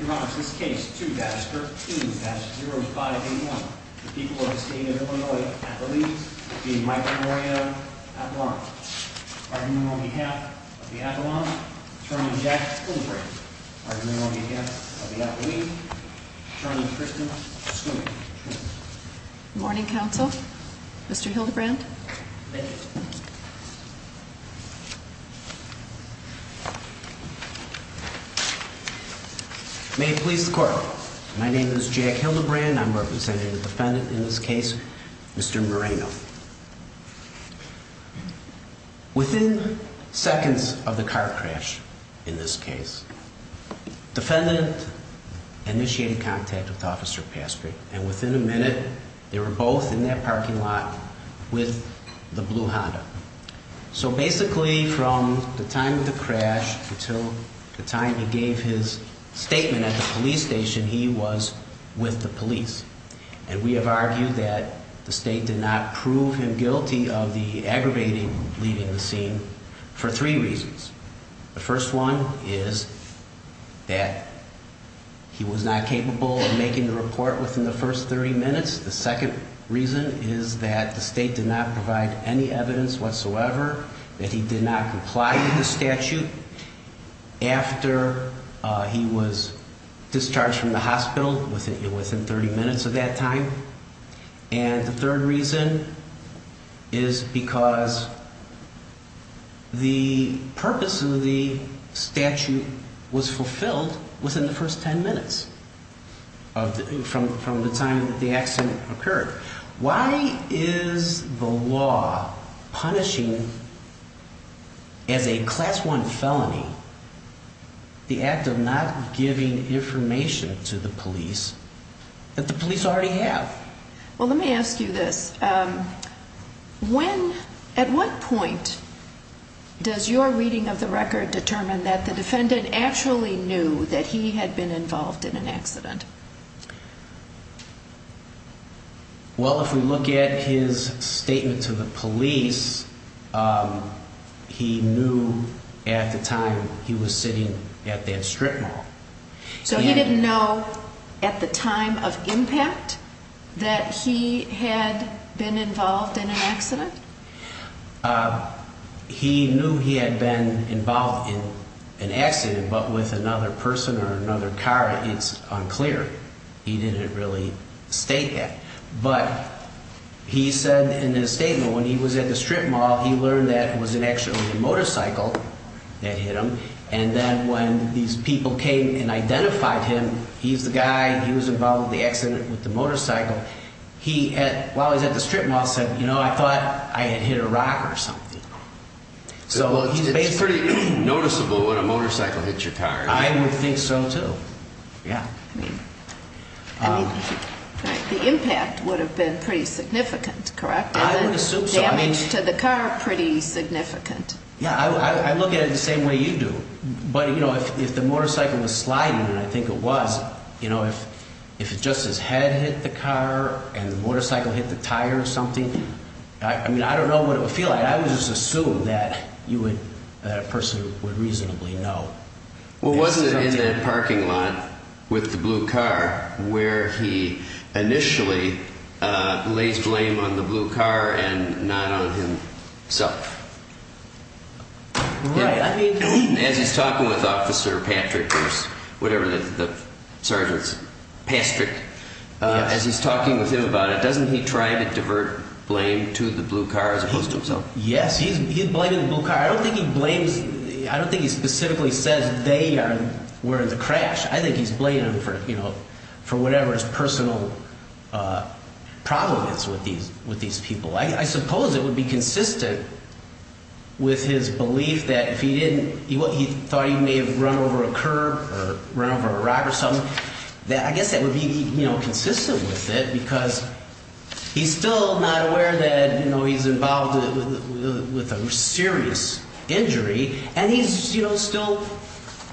Your Honor, in this case 2-13-0581, the people of the state of Illinois at the lead will be Michael Moreno Apollon. Argument on behalf of the Apollon, Attorney Jack Hildebrand. Argument on behalf of the Apollon, Attorney Kristen Schumann. Good morning, counsel. Mr. Hildebrand. Thank you. May it please the court. My name is Jack Hildebrand. I'm representing the defendant in this case, Mr. Moreno. Within seconds of the car crash in this case, defendant initiated contact with Officer Pastry. And within a minute, they were both in that parking lot with the blue Honda. So basically, from the time of the crash until the time he gave his statement at the police station, he was with the police. And we have argued that the state did not prove him guilty of the aggravating leaving the scene for three reasons. The first one is that he was not capable of making the report within the first 30 minutes. The second reason is that the state did not provide any evidence whatsoever that he did not comply with the statute after he was discharged from the hospital within 30 minutes of that time. And the third reason is because the purpose of the statute was fulfilled within the first 10 minutes from the time that the accident occurred. Why is the law punishing, as a Class I felony, the act of not giving information to the police that the police already have? Well, let me ask you this. At what point does your reading of the record determine that the defendant actually knew that he had been involved in an accident? Well, if we look at his statement to the police, he knew at the time he was sitting at that strip mall. So he didn't know at the time of impact that he had been involved in an accident? He knew he had been involved in an accident, but with another person or another car, it's unclear. He didn't really state that. But he said in his statement when he was at the strip mall, he learned that it was actually a motorcycle that hit him. And then when these people came and identified him, he's the guy, he was involved in the accident with the motorcycle. He, while he was at the strip mall, said, you know, I thought I had hit a rock or something. So it's pretty noticeable when a motorcycle hits your car. I would think so, too. Yeah. I mean, the impact would have been pretty significant, correct? I would assume so. And the damage to the car, pretty significant. Yeah, I look at it the same way you do. But, you know, if the motorcycle was sliding, and I think it was, you know, if it just his head hit the car and the motorcycle hit the tire or something, I mean, I don't know what it would feel like. I would just assume that you would, that a person would reasonably know. Well, wasn't it in that parking lot with the blue car where he initially lays blame on the blue car and not on himself? Right. As he's talking with Officer Patrick or whatever the sergeant's, Patrick, as he's talking with him about it, doesn't he try to divert blame to the blue car as opposed to himself? Yes, he's blaming the blue car. I don't think he blames, I don't think he specifically says they were in the crash. I think he's blaming them for, you know, for whatever his personal problem is with these people. I suppose it would be consistent with his belief that if he didn't, he thought he may have run over a curb or run over a rock or something. I guess that would be, you know, consistent with it because he's still not aware that, you know, he's involved with a serious injury. And he's, you know, still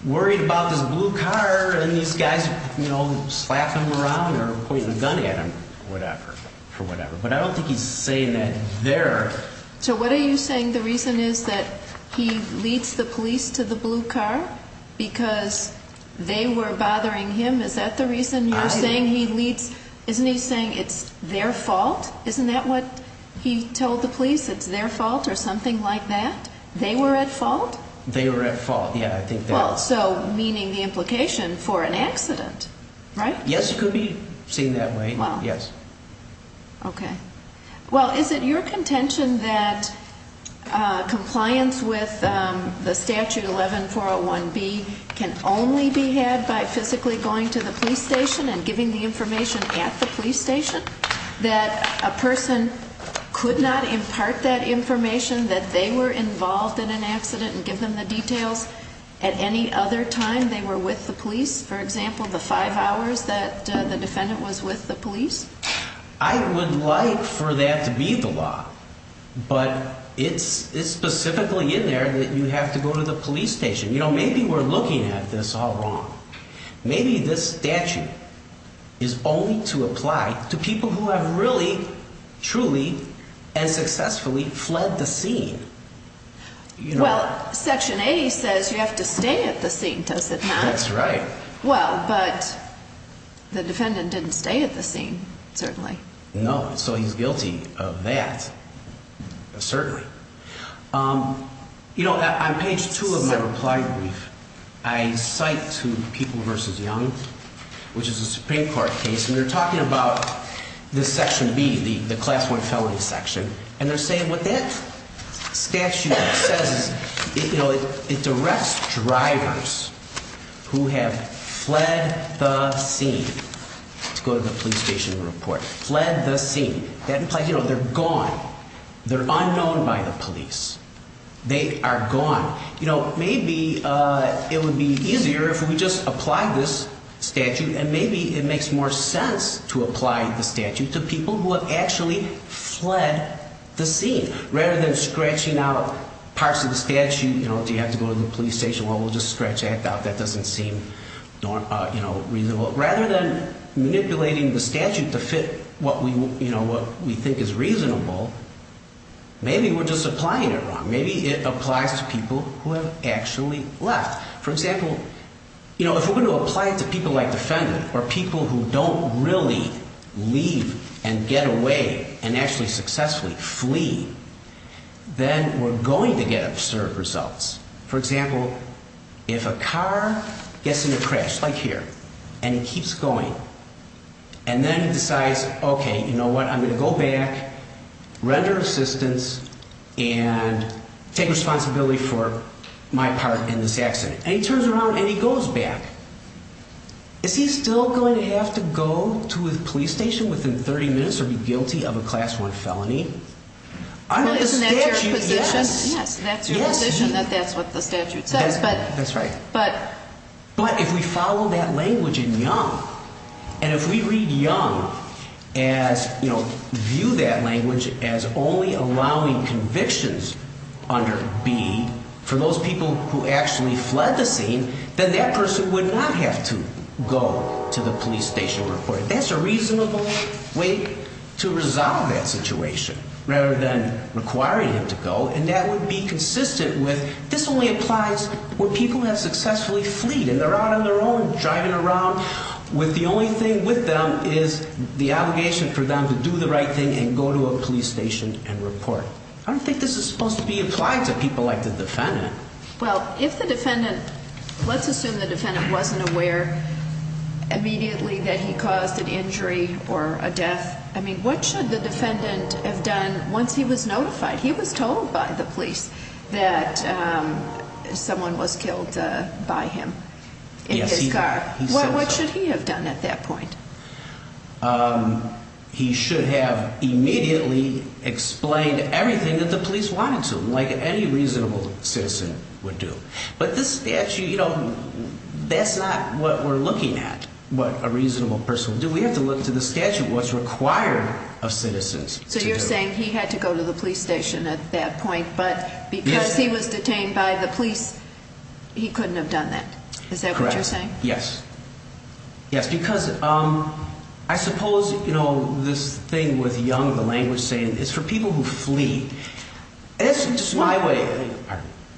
worried about this blue car and these guys, you know, slapping him around or pointing a gun at him or whatever, for whatever. But I don't think he's saying that there. So what are you saying the reason is that he leads the police to the blue car because they were bothering him? Is that the reason you're saying he leads? Isn't he saying it's their fault? Isn't that what he told the police? It's their fault or something like that? They were at fault? They were at fault, yeah, I think they were. Well, so meaning the implication for an accident, right? Yes, it could be seen that way, yes. Okay. Well, is it your contention that compliance with the Statute 11-401B can only be had by physically going to the police station and giving the information at the police station? That a person could not impart that information that they were involved in an accident and give them the details at any other time they were with the police? For example, the five hours that the defendant was with the police? I would like for that to be the law, but it's specifically in there that you have to go to the police station. You know, maybe we're looking at this all wrong. Maybe this statute is only to apply to people who have really, truly, and successfully fled the scene. Well, Section 80 says you have to stay at the scene, does it not? That's right. Well, but the defendant didn't stay at the scene, certainly. No, so he's guilty of that, certainly. You know, on page two of my reply brief, I cite to People v. Young, which is a Supreme Court case, and they're talking about this Section B, the Class 1 felony section. And they're saying what that statute says is, you know, it directs drivers who have fled the scene to go to the police station and report. Fled the scene. That implies, you know, they're gone. They're unknown by the police. They are gone. You know, maybe it would be easier if we just applied this statute, and maybe it makes more sense to apply the statute to people who have actually fled the scene. Rather than scratching out parts of the statute, you know, do you have to go to the police station? Well, we'll just scratch that out. That doesn't seem, you know, reasonable. Rather than manipulating the statute to fit what we, you know, what we think is reasonable, maybe we're just applying it wrong. Maybe it applies to people who have actually left. For example, you know, if we're going to apply it to people like the defendant or people who don't really leave and get away and actually successfully flee, then we're going to get absurd results. For example, if a car gets in a crash, like here, and it keeps going, and then it decides, okay, you know what, I'm going to go back, render assistance, and take responsibility for my part in this accident. And he turns around and he goes back. Is he still going to have to go to a police station within 30 minutes or be guilty of a Class 1 felony? Well, isn't that your position? Yes. Yes, that's your position, that that's what the statute says. That's right. But if we follow that language in Young, and if we read Young as, you know, view that language as only allowing convictions under B for those people who actually fled the scene, then that person would not have to go to the police station. That's a reasonable way to resolve that situation rather than requiring him to go. And that would be consistent with this only applies where people have successfully fleed, and they're out on their own, driving around with the only thing with them is the obligation for them to do the right thing and go to a police station and report. I don't think this is supposed to be applied to people like the defendant. Well, if the defendant, let's assume the defendant wasn't aware immediately that he caused an injury or a death. I mean, what should the defendant have done once he was notified? He was told by the police that someone was killed by him in his car. What should he have done at that point? He should have immediately explained everything that the police wanted to, like any reasonable citizen would do. But this statute, you know, that's not what we're looking at, what a reasonable person would do. We have to look to the statute, what's required of citizens. So you're saying he had to go to the police station at that point, but because he was detained by the police, he couldn't have done that. Is that what you're saying? Yes. Yes, because I suppose, you know, this thing with Young, the language saying it's for people who flee. That's just my way.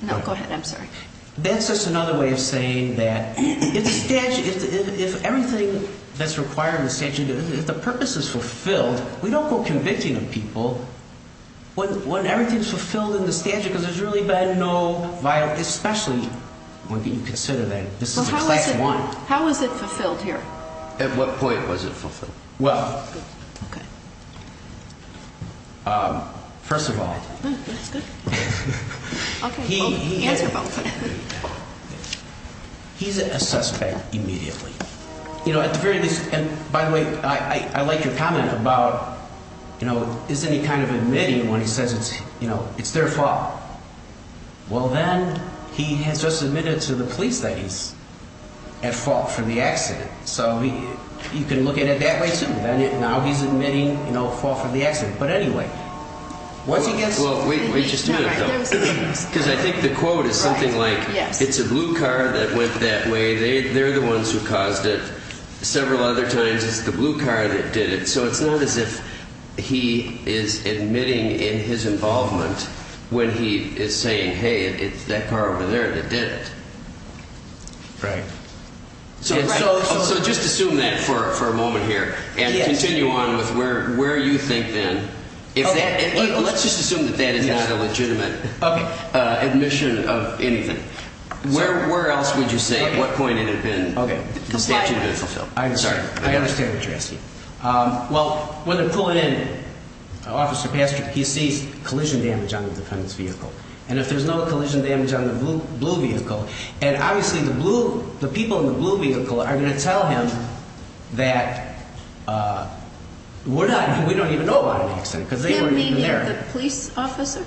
No, go ahead. I'm sorry. That's just another way of saying that if the statute, if everything that's required in the statute, if the purpose is fulfilled, we don't go convicting of people when everything's fulfilled in the statute because there's really been no violation, especially when you consider that this is a class one. How is it fulfilled here? At what point was it fulfilled? Well, first of all, he's a suspect immediately, you know, at the very least. And by the way, I like your comment about, you know, is any kind of admitting when he says it's, you know, it's their fault. Well, then he has just admitted to the police that he's at fault for the accident. So you can look at it that way, too. Now he's admitting, you know, fault for the accident. But anyway, once he gets... Well, wait just a minute, though, because I think the quote is something like it's a blue car that went that way. They're the ones who caused it. Several other times it's the blue car that did it. So it's not as if he is admitting in his involvement when he is saying, hey, it's that car over there that did it. Right. So just assume that for a moment here and continue on with where you think then. Let's just assume that that is not a legitimate admission of anything. Where else would you say at what point it had been, the statute had been fulfilled? I'm sorry. I understand what you're asking. Well, when they're pulling in Officer Pastrick, he sees collision damage on the defendant's vehicle. And if there's no collision damage on the blue vehicle, and obviously the people in the blue vehicle are going to tell him that we're not... We don't even know about an accident because they weren't even there. You mean the police officer?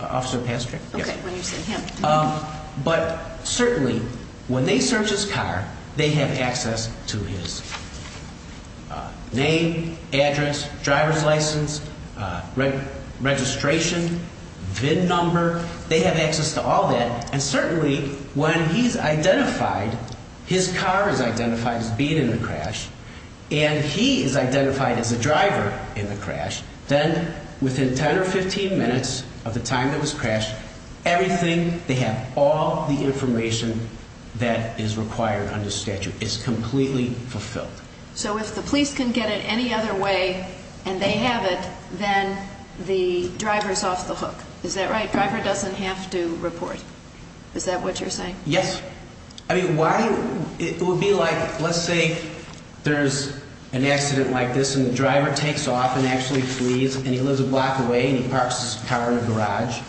Officer Pastrick. Okay, when you say him. But certainly when they search his car, they have access to his name, address, driver's license, registration, VIN number. They have access to all that. And certainly when he's identified, his car is identified as being in the crash, and he is identified as the driver in the crash, then within 10 or 15 minutes of the time that was crashed, everything, they have all the information that is required under statute. It's completely fulfilled. So if the police can get it any other way and they have it, then the driver's off the hook. Is that right? Driver doesn't have to report. Is that what you're saying? Yes. Okay. I mean, why... It would be like, let's say there's an accident like this and the driver takes off and actually flees, and he lives a block away and he parks his car in a garage,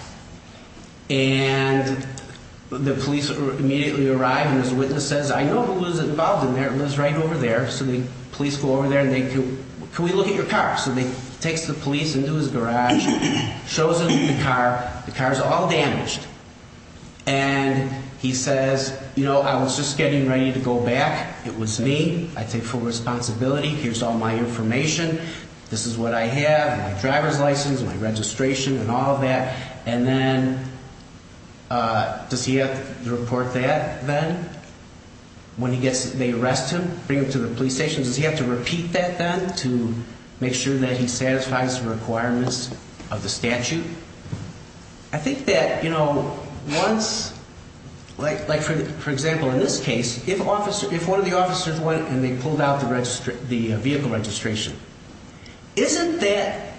and the police immediately arrive and his witness says, I know who lives involved in there. It lives right over there. So the police go over there and they go, can we look at your car? So he takes the police into his garage, shows them the car. The car is all damaged. And he says, you know, I was just getting ready to go back. It was me. I take full responsibility. Here's all my information. This is what I have, my driver's license, my registration and all of that. And then does he have to report that then when he gets, they arrest him, bring him to the police station? Does he have to repeat that then to make sure that he satisfies the requirements of the statute? I think that, you know, once, like for example in this case, if one of the officers went and they pulled out the vehicle registration, isn't that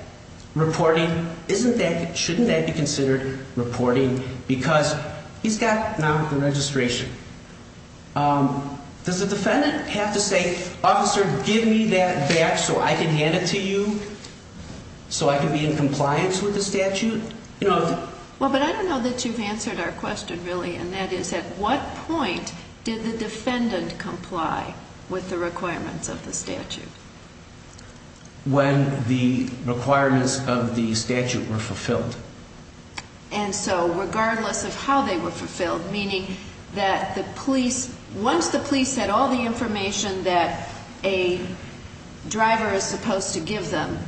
reporting, shouldn't that be considered reporting because he's got now the registration? Does the defendant have to say, officer, give me that back so I can hand it to you so I can be in compliance with the statute? Well, but I don't know that you've answered our question really. And that is, at what point did the defendant comply with the requirements of the statute? When the requirements of the statute were fulfilled. And so regardless of how they were fulfilled, meaning that the police, once the police had all the information that a driver is supposed to give them,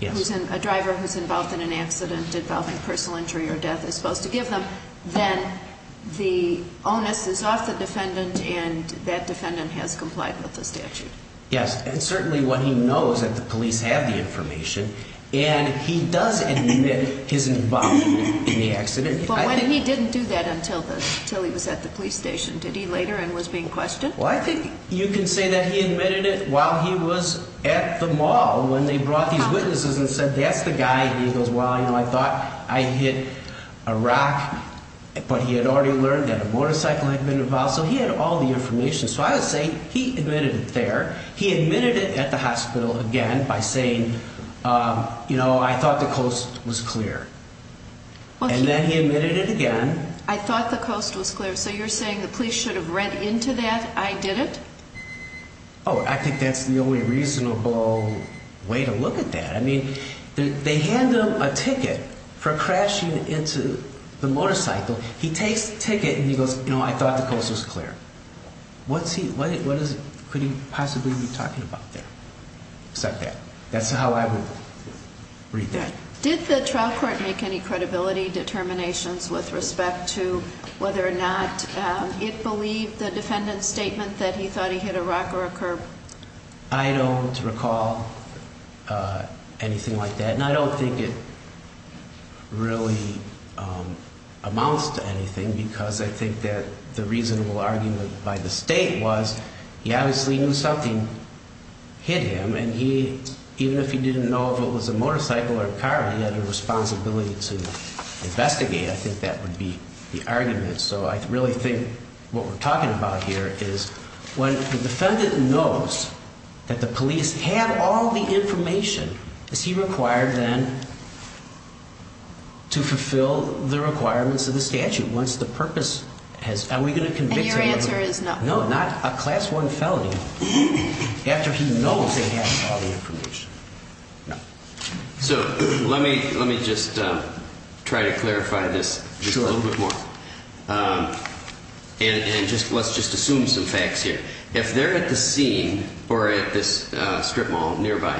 a driver who's involved in an accident involving personal injury or death is supposed to give them, then the onus is off the defendant and that defendant has complied with the statute. Yes, and certainly what he knows that the police have the information and he does admit his involvement in the accident. But when he didn't do that until he was at the police station, did he later and was being questioned? Well, I think you can say that he admitted it while he was at the mall when they brought these witnesses and said, that's the guy, and he goes, well, you know, I thought I hit a rock, but he had already learned that a motorcycle had been involved. So he had all the information. So I would say he admitted it there. He admitted it at the hospital again by saying, you know, I thought the coast was clear. And then he admitted it again. I thought the coast was clear. So you're saying the police should have read into that. I did it. Oh, I think that's the only reasonable way to look at that. I mean, they hand them a ticket for crashing into the motorcycle. He takes the ticket and he goes, you know, I thought the coast was clear. What could he possibly be talking about there? Except that. That's how I would read that. Did the trial court make any credibility determinations with respect to whether or not it believed the defendant's statement that he thought he hit a rock or a curb? I don't recall anything like that. And I don't think it really amounts to anything because I think that the reasonable argument by the state was he obviously knew something hit him. And even if he didn't know if it was a motorcycle or a car, he had a responsibility to investigate. I think that would be the argument. So I really think what we're talking about here is when the defendant knows that the police have all the information, is he required then to fulfill the requirements of the statute once the purpose has – are we going to convict him? And your answer is no. No, not a class one felony after he knows they have all the information. So let me just try to clarify this a little bit more. Sure. And let's just assume some facts here. If they're at the scene or at this strip mall nearby,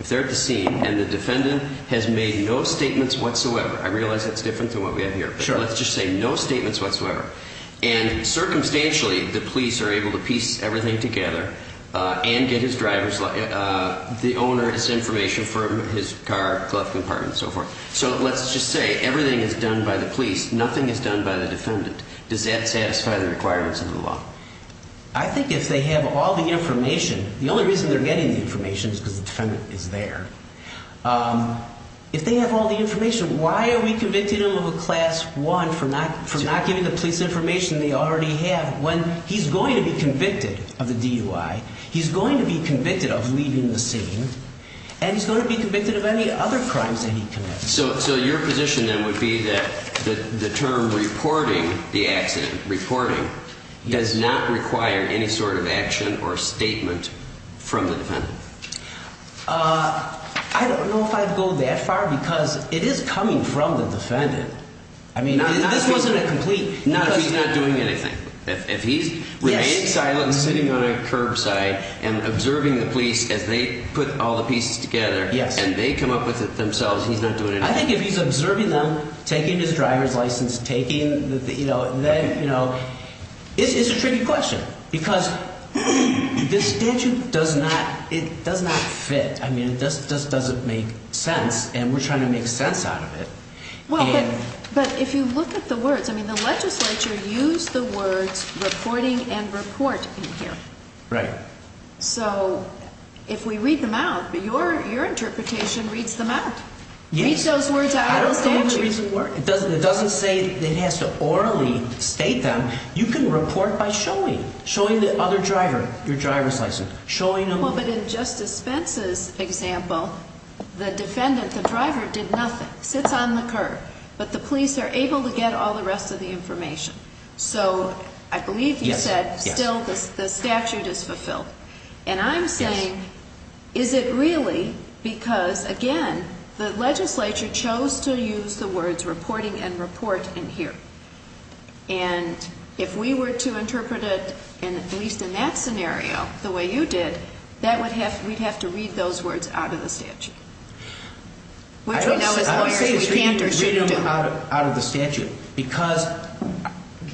if they're at the scene and the defendant has made no statements whatsoever – I realize that's different than what we have here. Sure. Let's just say no statements whatsoever. And circumstantially, the police are able to piece everything together and get his driver's – the owner's information from his car, glove compartment and so forth. So let's just say everything is done by the police, nothing is done by the defendant. Does that satisfy the requirements of the law? I think if they have all the information – the only reason they're getting the information is because the defendant is there. If they have all the information, why are we convicting him of a class one for not giving the police information they already have when he's going to be convicted of the DUI, he's going to be convicted of leaving the scene, and he's going to be convicted of any other crimes that he committed? So your position then would be that the term reporting the accident, reporting, does not require any sort of action or statement from the defendant? I don't know if I'd go that far because it is coming from the defendant. I mean, this wasn't a complete – Not if he's not doing anything. If he's remaining silent and sitting on a curbside and observing the police as they put all the pieces together and they come up with it themselves, he's not doing anything. I think if he's observing them, taking his driver's license, taking – it's a tricky question because this statute does not fit. I mean, it just doesn't make sense, and we're trying to make sense out of it. Well, but if you look at the words – I mean, the legislature used the words reporting and report in here. Right. So if we read them out, your interpretation reads them out. Read those words out of the statute. It doesn't say it has to orally state them. You can report by showing, showing the other driver your driver's license, showing them – Well, but in Justice Spence's example, the defendant, the driver, did nothing, sits on the curb, but the police are able to get all the rest of the information. So I believe you said still the statute is fulfilled. And I'm saying, is it really because, again, the legislature chose to use the words reporting and report in here? And if we were to interpret it, at least in that scenario, the way you did, that would have – we'd have to read those words out of the statute. Which we know as lawyers we can't or shouldn't do. Because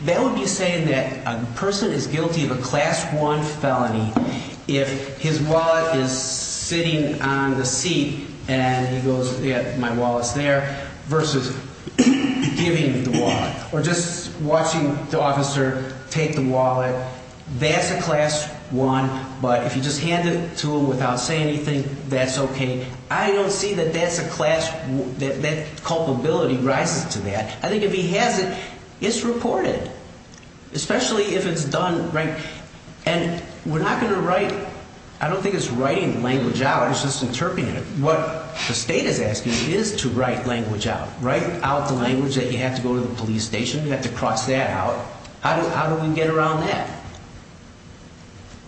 that would be saying that a person is guilty of a Class I felony if his wallet is sitting on the seat and he goes, yeah, my wallet's there, versus giving the wallet. Or just watching the officer take the wallet. That's a Class I, but if you just hand it to him without saying anything, that's okay. I don't see that that's a Class – that culpability rises to that. I think if he has it, it's reported. Especially if it's done – and we're not going to write – I don't think it's writing the language out, it's just interpreting it. What the state is asking is to write language out. Write out the language that you have to go to the police station, you have to cross that out. How do we get around that?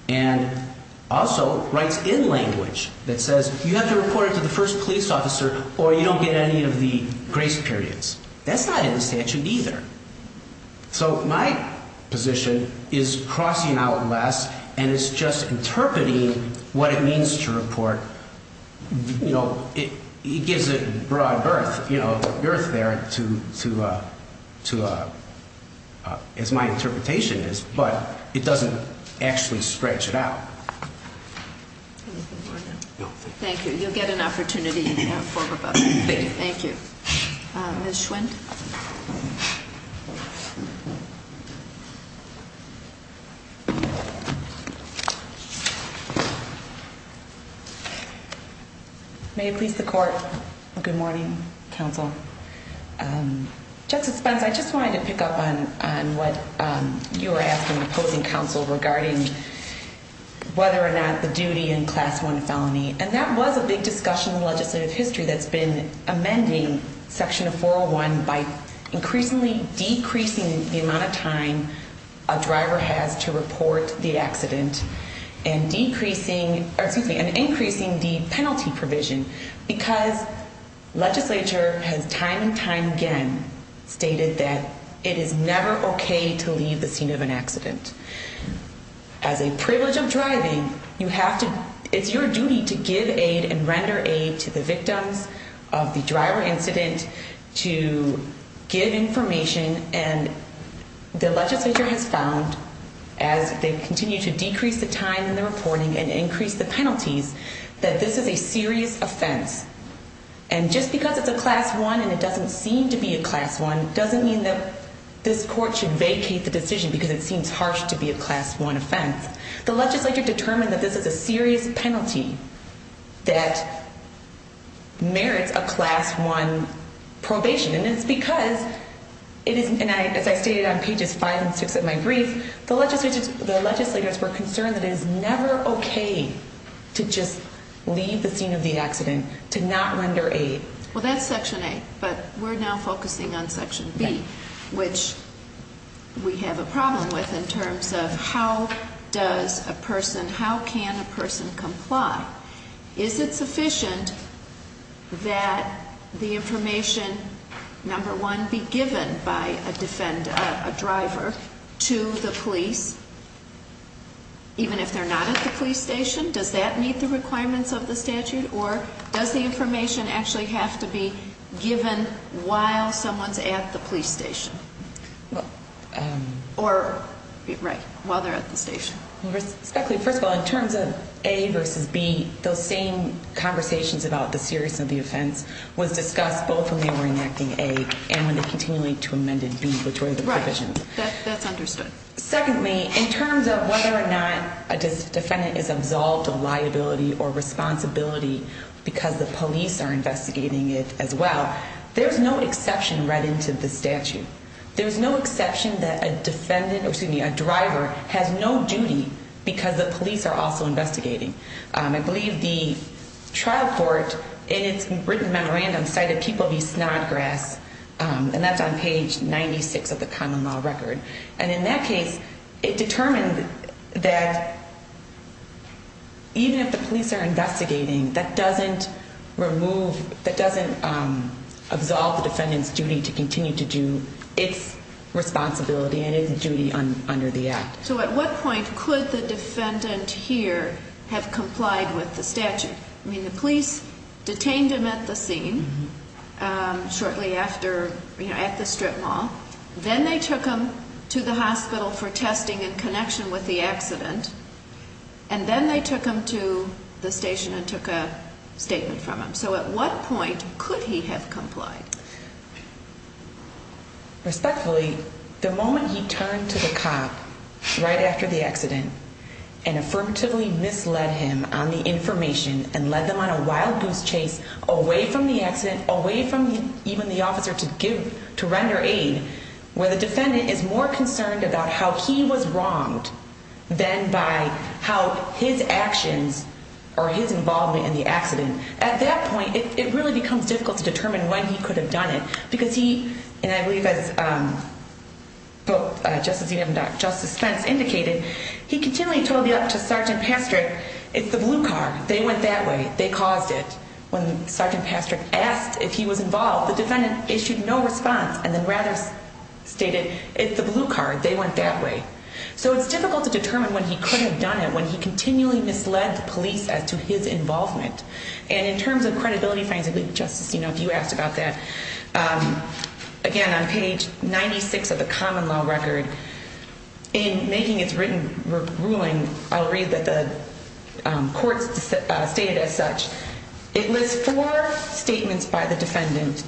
And also writes in language that says you have to report it to the first police officer or you don't get any of the grace periods. That's not in the statute either. So my position is crossing out less and it's just interpreting what it means to report. You know, it gives it broad berth, you know, berth there to – as my interpretation is, but it doesn't actually stretch it out. Thank you. You'll get an opportunity to talk about that. Thank you. Thank you. Ms. Schwind. May it please the court. Good morning, counsel. Justice Spence, I just wanted to pick up on what you were asking the opposing counsel regarding whether or not the duty in Class I felony. And that was a big discussion in legislative history that's been amending Section 401 by increasingly decreasing the amount of time a driver has to report the accident. And increasing the penalty provision because legislature has time and time again stated that it is never okay to leave the scene of an accident. As a privilege of driving, you have to – it's your duty to give aid and render aid to the victims of the driver incident, to give information. And the legislature has found, as they continue to decrease the time in the reporting and increase the penalties, that this is a serious offense. And just because it's a Class I and it doesn't seem to be a Class I doesn't mean that this court should vacate the decision because it seems harsh to be a Class I offense. The legislature determined that this is a serious penalty that merits a Class I probation. And it's because, as I stated on pages 5 and 6 of my brief, the legislators were concerned that it is never okay to just leave the scene of the accident, to not render aid. Well, that's Section A, but we're now focusing on Section B, which we have a problem with in terms of how does a person – how can a person comply? Is it sufficient that the information, number one, be given by a driver to the police, even if they're not at the police station? Does that meet the requirements of the statute, or does the information actually have to be given while someone's at the police station? Or, right, while they're at the station. Respectfully, first of all, in terms of A versus B, those same conversations about the seriousness of the offense was discussed both when they were enacting A and when they continued to amend in B, which were the provisions. Right. That's understood. Secondly, in terms of whether or not a defendant is absolved of liability or responsibility because the police are investigating it as well, there's no exception read into the statute. There's no exception that a defendant – or, excuse me, a driver has no duty because the police are also investigating. I believe the trial court, in its written memorandum, cited people v. Snodgrass, and that's on page 96 of the common law record. And in that case, it determined that even if the police are investigating, that doesn't remove – that doesn't absolve the defendant's duty to continue to do its responsibility and its duty under the act. So at what point could the defendant here have complied with the statute? I mean, the police detained him at the scene shortly after – you know, at the strip mall. Then they took him to the hospital for testing in connection with the accident. And then they took him to the station and took a statement from him. So at what point could he have complied? Respectfully, the moment he turned to the cop right after the accident and affirmatively misled him on the information and led them on a wild goose chase away from the accident, away from even the officer to render aid, where the defendant is more concerned about how he was wronged than by how his actions or his involvement in the accident – at that point, it really becomes difficult to determine when he could have done it. Because he – and I believe, as Justice Edelman and Justice Spence indicated, he continually told Sergeant Pastrick, it's the blue card, they went that way, they caused it. When Sergeant Pastrick asked if he was involved, the defendant issued no response and then rather stated, it's the blue card, they went that way. So it's difficult to determine when he could have done it, when he continually misled the police as to his involvement. And in terms of credibility finding, Justice, you know, if you asked about that, again, on page 96 of the common law record, in making its written ruling, I'll read that the court stated as such, it lists four statements by the defendant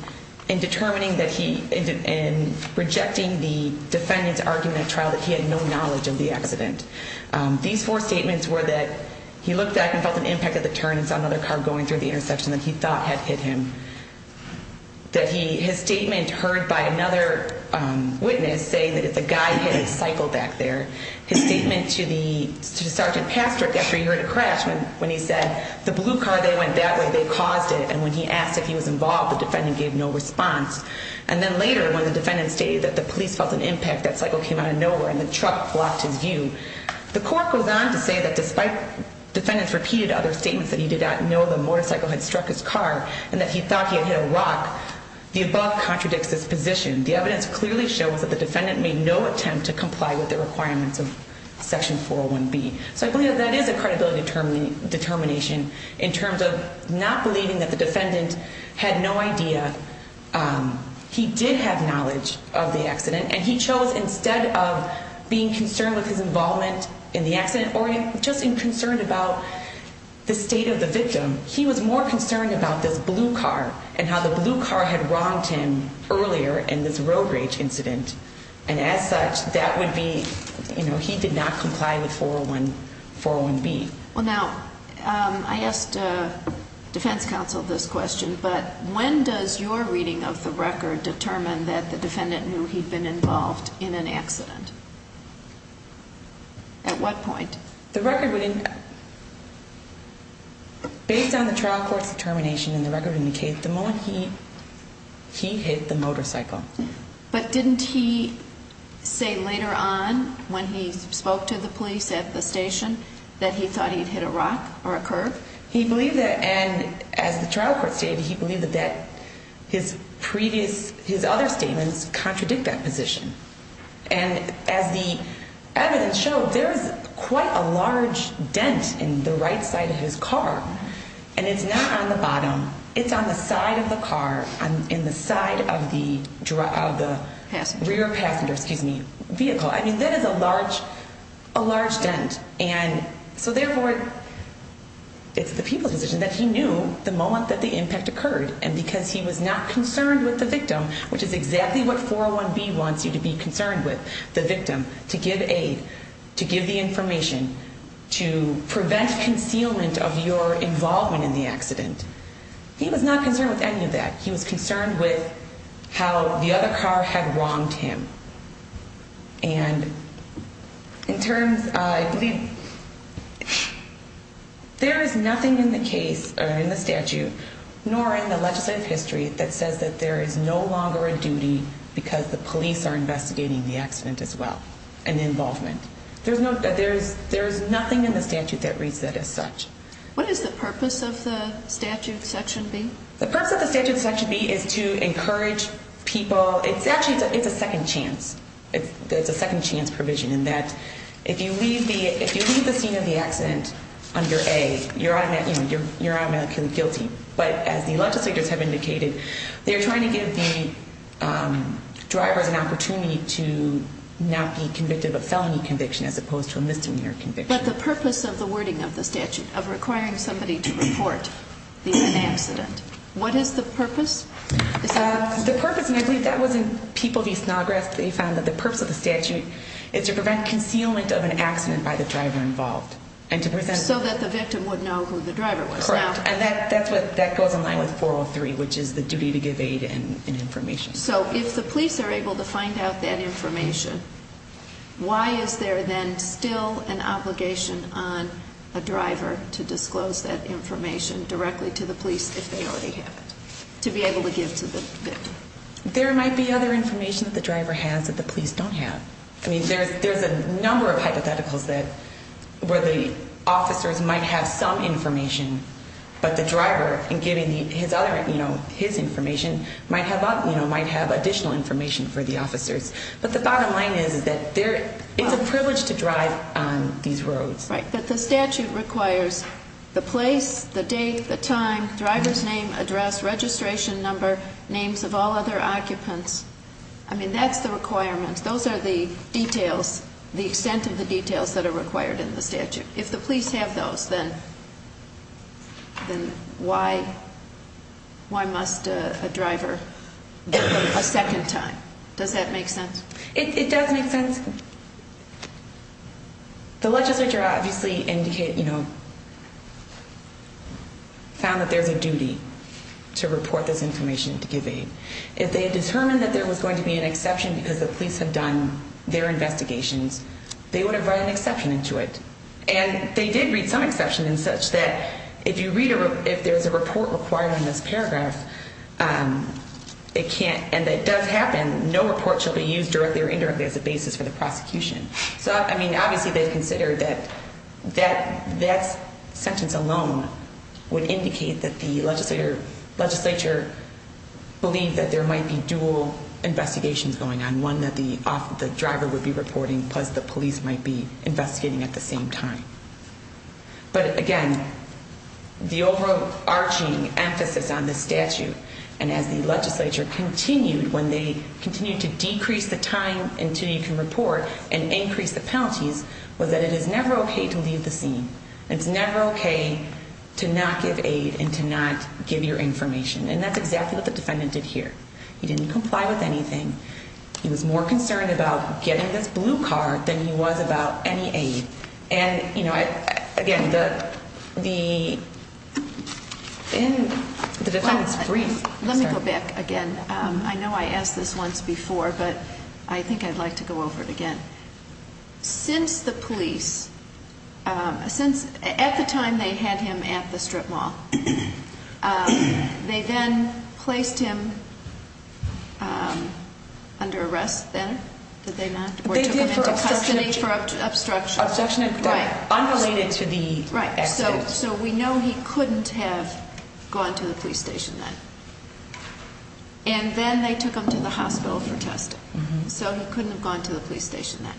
in determining that he – in rejecting the defendant's argument of trial that he had no knowledge of the accident. These four statements were that he looked back and felt an impact at the turn and saw another car going through the intersection that he thought had hit him. That he – his statement heard by another witness saying that it's a guy hitting a cycle back there. His statement to the – to Sergeant Pastrick after he heard a crash when he said, the blue card, they went that way, they caused it. And when he asked if he was involved, the defendant gave no response. And then later when the defendant stated that the police felt an impact, that cycle came out of nowhere and the truck blocked his view. The court goes on to say that despite defendant's repeated other statements that he did not know the motorcycle had struck his car, and that he thought he had hit a rock, the above contradicts his position. The evidence clearly shows that the defendant made no attempt to comply with the requirements of section 401B. So I believe that that is a credibility determination in terms of not believing that the defendant had no idea he did have knowledge of the accident. And he chose instead of being concerned with his involvement in the accident or just in concern about the state of the victim, he was more concerned about this blue car and how the blue car had wronged him earlier in this road rage incident. And as such, that would be, you know, he did not comply with 401B. Well, now, I asked defense counsel this question, but when does your reading of the record determine that the defendant knew he'd been involved in an accident? At what point? The record would, based on the trial court's determination in the record indicates the moment he hit the motorcycle. But didn't he say later on when he spoke to the police at the station that he thought he'd hit a rock or a curb? He believed that, and as the trial court stated, he believed that his previous, his other statements contradict that position. And as the evidence showed, there is quite a large dent in the right side of his car, and it's not on the bottom. It's on the side of the car, in the side of the rear passenger, excuse me, vehicle. I mean, that is a large, a large dent. And so therefore, it's the people's decision that he knew the moment that the impact occurred. And because he was not concerned with the victim, which is exactly what 401B wants you to be concerned with, the victim, to give aid, to give the information, to prevent concealment of your involvement in the accident, he was not concerned with any of that. He was concerned with how the other car had wronged him. And in terms, I believe, there is nothing in the case, or in the statute, nor in the legislative history, that says that there is no longer a duty because the police are investigating the accident as well and the involvement. There is nothing in the statute that reads that as such. What is the purpose of the statute, Section B? The purpose of the statute, Section B, is to encourage people. It's actually, it's a second chance. It's a second chance provision in that if you leave the scene of the accident under A, you're automatically guilty. But as the legislators have indicated, they're trying to give the drivers an opportunity to not be convicted of a felony conviction as opposed to a misdemeanor conviction. But the purpose of the wording of the statute, of requiring somebody to report the accident, what is the purpose? The purpose, and I believe that was in People v. Snodgrass, they found that the purpose of the statute is to prevent concealment of an accident by the driver involved. So that the victim would know who the driver was. Correct, and that goes in line with 403, which is the duty to give aid and information. So if the police are able to find out that information, why is there then still an obligation on a driver to disclose that information directly to the police if they already have it, to be able to give to the victim? There might be other information that the driver has that the police don't have. There's a number of hypotheticals where the officers might have some information, but the driver, in giving his information, might have additional information for the officers. But the bottom line is that it's a privilege to drive on these roads. Right, but the statute requires the place, the date, the time, driver's name, address, registration number, names of all other occupants. I mean, that's the requirement. Those are the details, the extent of the details that are required in the statute. If the police have those, then why must a driver give them a second time? Does that make sense? It does make sense. The legislature obviously indicated, you know, found that there's a duty to report this information to give aid. If they had determined that there was going to be an exception because the police had done their investigations, they would have read an exception into it. And they did read some exception in such that if there's a report required on this paragraph, and it does happen, no report should be used directly or indirectly as a basis for the prosecution. So, I mean, obviously they've considered that that sentence alone would indicate that the legislature believed that there might be dual investigations going on. One that the driver would be reporting, plus the police might be investigating at the same time. But, again, the overarching emphasis on this statute, and as the legislature continued, when they continued to decrease the time until you can report and increase the penalties, was that it is never okay to leave the scene. It's never okay to not give aid and to not give your information. And that's exactly what the defendant did here. He didn't comply with anything. He was more concerned about getting this blue card than he was about any aid. Let me go back again. I know I asked this once before, but I think I'd like to go over it again. Since the police, at the time they had him at the strip mall, they then placed him under arrest then, did they not, or took him into custody for obstruction. Objection and protection. Right. Unrelated to the accident. So we know he couldn't have gone to the police station then. And then they took him to the hospital for testing. So he couldn't have gone to the police station then.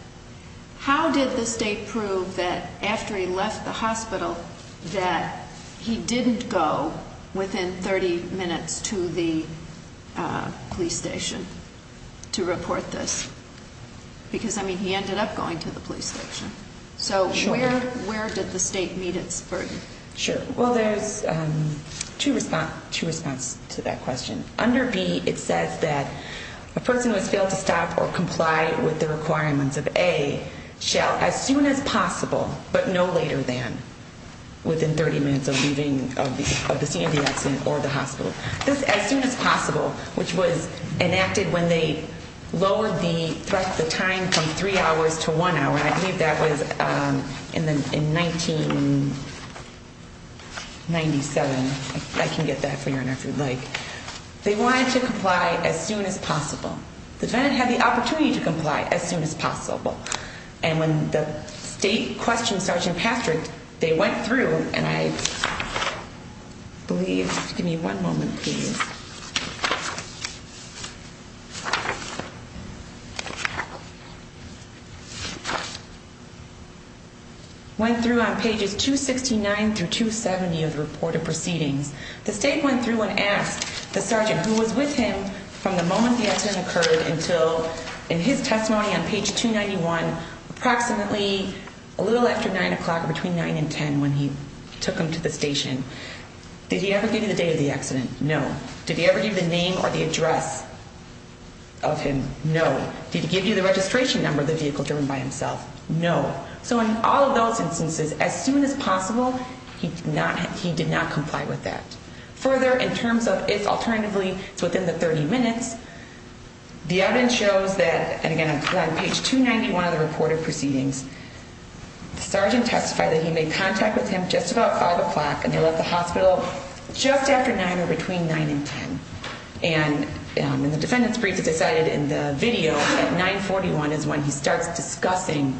How did the state prove that after he left the hospital that he didn't go within 30 minutes to the police station to report this? Because, I mean, he ended up going to the police station. So where did the state meet its burden? Sure. Well, there's two response to that question. Under B, it says that a person who has failed to stop or comply with the requirements of A, shall as soon as possible, but no later than, within 30 minutes of leaving the scene of the accident or the hospital. This, as soon as possible, which was enacted when they lowered the time from three hours to one hour, and I believe that was in 1997. I can get that for you, Your Honor, if you'd like. They wanted to comply as soon as possible. The defendant had the opportunity to comply as soon as possible. And when the state questioned Sergeant Patrick, they went through, and I believe, give me one moment, please. Went through on pages 269 through 270 of the report of proceedings. The state went through and asked the sergeant who was with him from the moment the accident occurred until, in his testimony on page 291, approximately a little after 9 o'clock or between 9 and 10 when he took him to the station, did he ever give you the date of the accident? No. Did he ever give you the name or the address of him? No. Did he give you the registration number of the vehicle driven by himself? No. So in all of those instances, as soon as possible, he did not comply with that. Further, in terms of if, alternatively, it's within the 30 minutes, the evidence shows that, and again, on page 291 of the report of proceedings, the sergeant testified that he made contact with him just about 5 o'clock and they left the hospital just after 9 or between 9 and 10. And the defendant's brief is decided in the video at 941 is when he starts discussing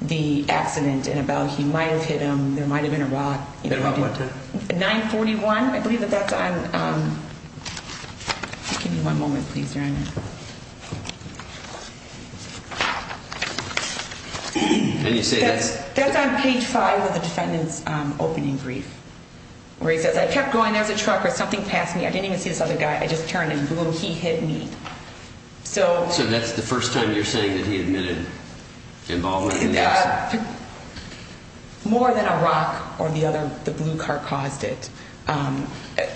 the accident and about he might have hit him, there might have been a rock. At about what time? 941, I believe that that's on, give me one moment, please, Your Honor. And you say that's? That's on page 5 of the defendant's opening brief where he says, I kept going, there's a truck or something passed me. I didn't even see this other guy. I just turned and boom, he hit me. So that's the first time you're saying that he admitted involvement in the accident? More than a rock or the other, the blue car caused it.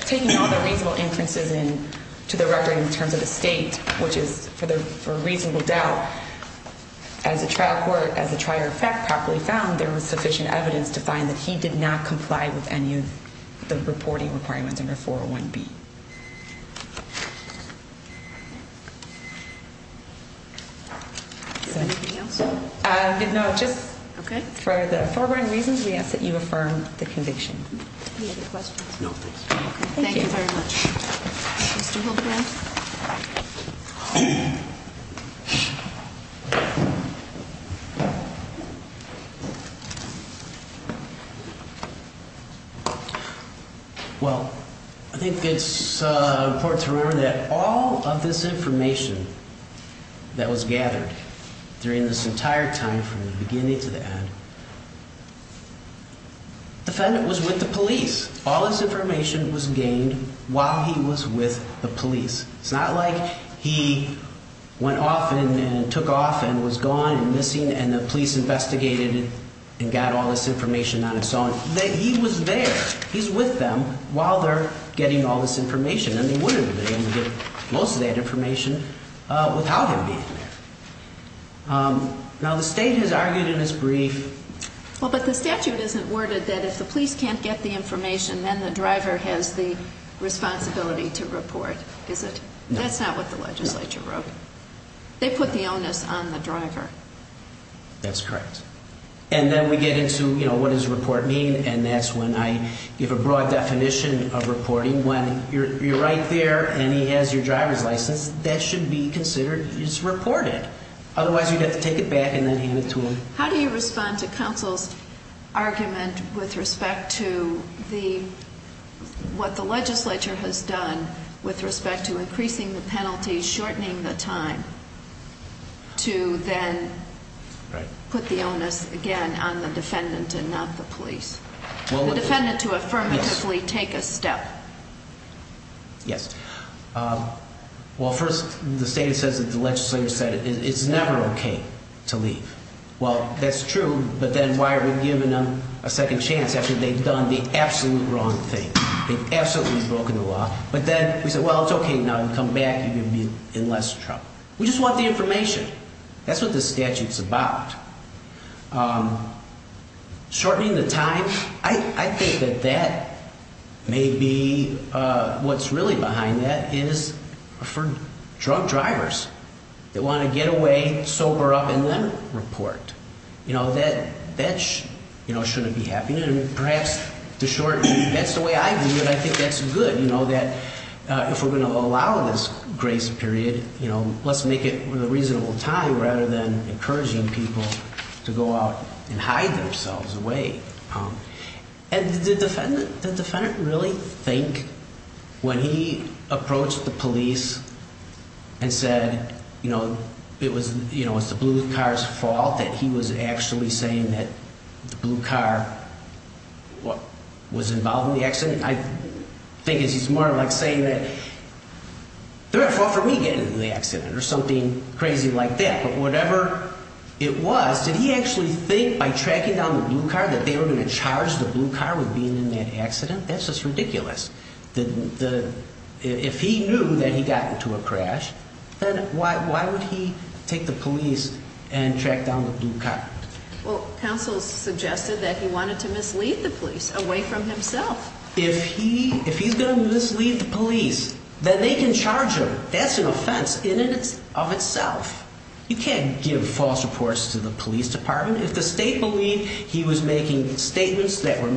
Taking all the reasonable inferences in to the record in terms of the state, which is for reasonable doubt, as a trial court, as a trier of fact properly found, there was sufficient evidence to find that he did not comply with any of the reporting requirements under 401B. Anything else? No, just for the foregoing reasons, we ask that you affirm the conviction. Any other questions? No, thanks. Thank you very much. Mr. Hildebrand? Well, I think it's important to remember that all of this information that was gathered during this entire time from the beginning to the end, the defendant was with the police. All this information was gained while he was with the police. It's not like he went off and took off and was gone and missing and the police investigated and got all this information on its own. He was there. He's with them while they're getting all this information. And they wouldn't have been able to get most of that information without him being there. Now, the state has argued in its brief. Well, but the statute isn't worded that if the police can't get the information, then the driver has the responsibility to report, is it? That's not what the legislature wrote. They put the onus on the driver. That's correct. And then we get into, you know, what does report mean? And that's when I give a broad definition of reporting. When you're right there and he has your driver's license, that should be considered as reported. Otherwise, you'd have to take it back and then hand it to him. How do you respond to counsel's argument with respect to what the legislature has done with respect to increasing the penalty, shortening the time to then put the onus again on the defendant and not the police? The defendant to affirmatively take a step. Yes. Well, first, the state says that the legislature said it's never OK to leave. Well, that's true. But then why are we giving them a second chance after they've done the absolute wrong thing? They've absolutely broken the law. But then we said, well, it's OK now to come back and be in less trouble. We just want the information. That's what the statute's about. Shortening the time, I think that that may be what's really behind that is for drunk drivers that want to get away, sober up and then report. You know, that shouldn't be happening. And perhaps to shorten, that's the way I view it. I think that's good. You know, that if we're going to allow this grace period, you know, let's make it a reasonable time rather than encouraging people to go out and hide themselves away. And did the defendant really think when he approached the police and said, you know, it was the blue car's fault that he was actually saying that the blue car was involved in the accident? I think it's more like saying that they're at fault for me getting into the accident or something crazy like that. But whatever it was, did he actually think by tracking down the blue car that they were going to charge the blue car with being in that accident? That's just ridiculous. If he knew that he got into a crash, then why would he take the police and track down the blue car? Well, counsel suggested that he wanted to mislead the police away from himself. If he's going to mislead the police, then they can charge him. That's an offense in and of itself. You can't give false reports to the police department. If the state believed he was making statements that were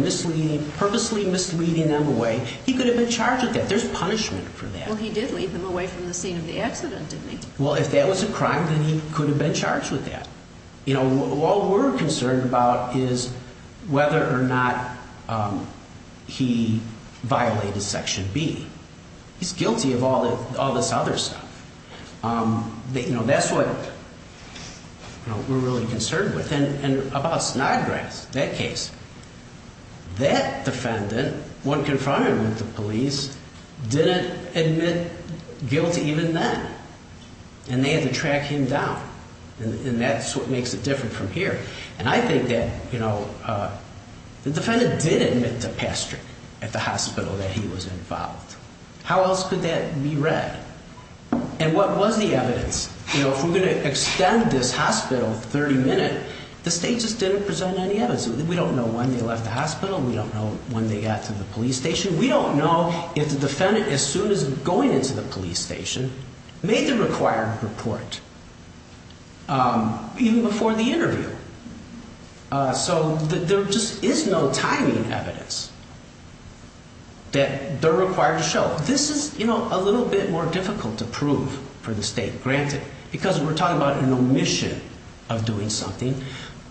purposely misleading them away, he could have been charged with that. There's punishment for that. Well, he did lead them away from the scene of the accident, didn't he? Well, if that was a crime, then he could have been charged with that. You know, all we're concerned about is whether or not he violated Section B. He's guilty of all this other stuff. You know, that's what we're really concerned with. And about Snodgrass, that case, that defendant, when confronting with the police, didn't admit guilty even then. And they had to track him down. And that's what makes it different from here. And I think that, you know, the defendant did admit to pestering at the hospital that he was involved. How else could that be read? And what was the evidence? You know, if we're going to extend this hospital 30 minutes, the state just didn't present any evidence. We don't know when they left the hospital. We don't know when they got to the police station. We don't know if the defendant, as soon as going into the police station, made the required report even before the interview. So there just is no timing evidence that they're required to show. This is, you know, a little bit more difficult to prove for the state. Granted, because we're talking about an omission of doing something.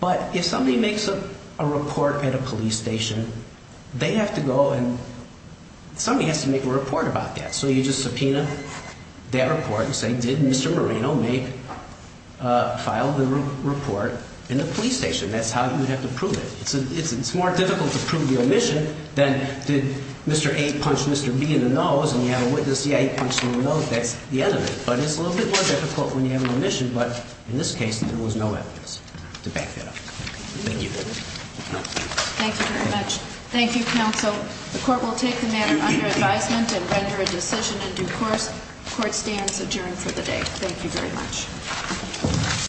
But if somebody makes a report at a police station, they have to go and somebody has to make a report about that. So you just subpoena that report and say, did Mr. Moreno file the report in the police station? That's how you would have to prove it. It's more difficult to prove the omission than did Mr. A punch Mr. B in the nose and you have a witness, that's the end of it. But it's a little bit more difficult when you have an omission. But in this case, there was no evidence to back that up. Thank you. Thank you very much. Thank you, counsel. The court will take the matter under advisement and render a decision in due course. Court stands adjourned for the day. Thank you very much.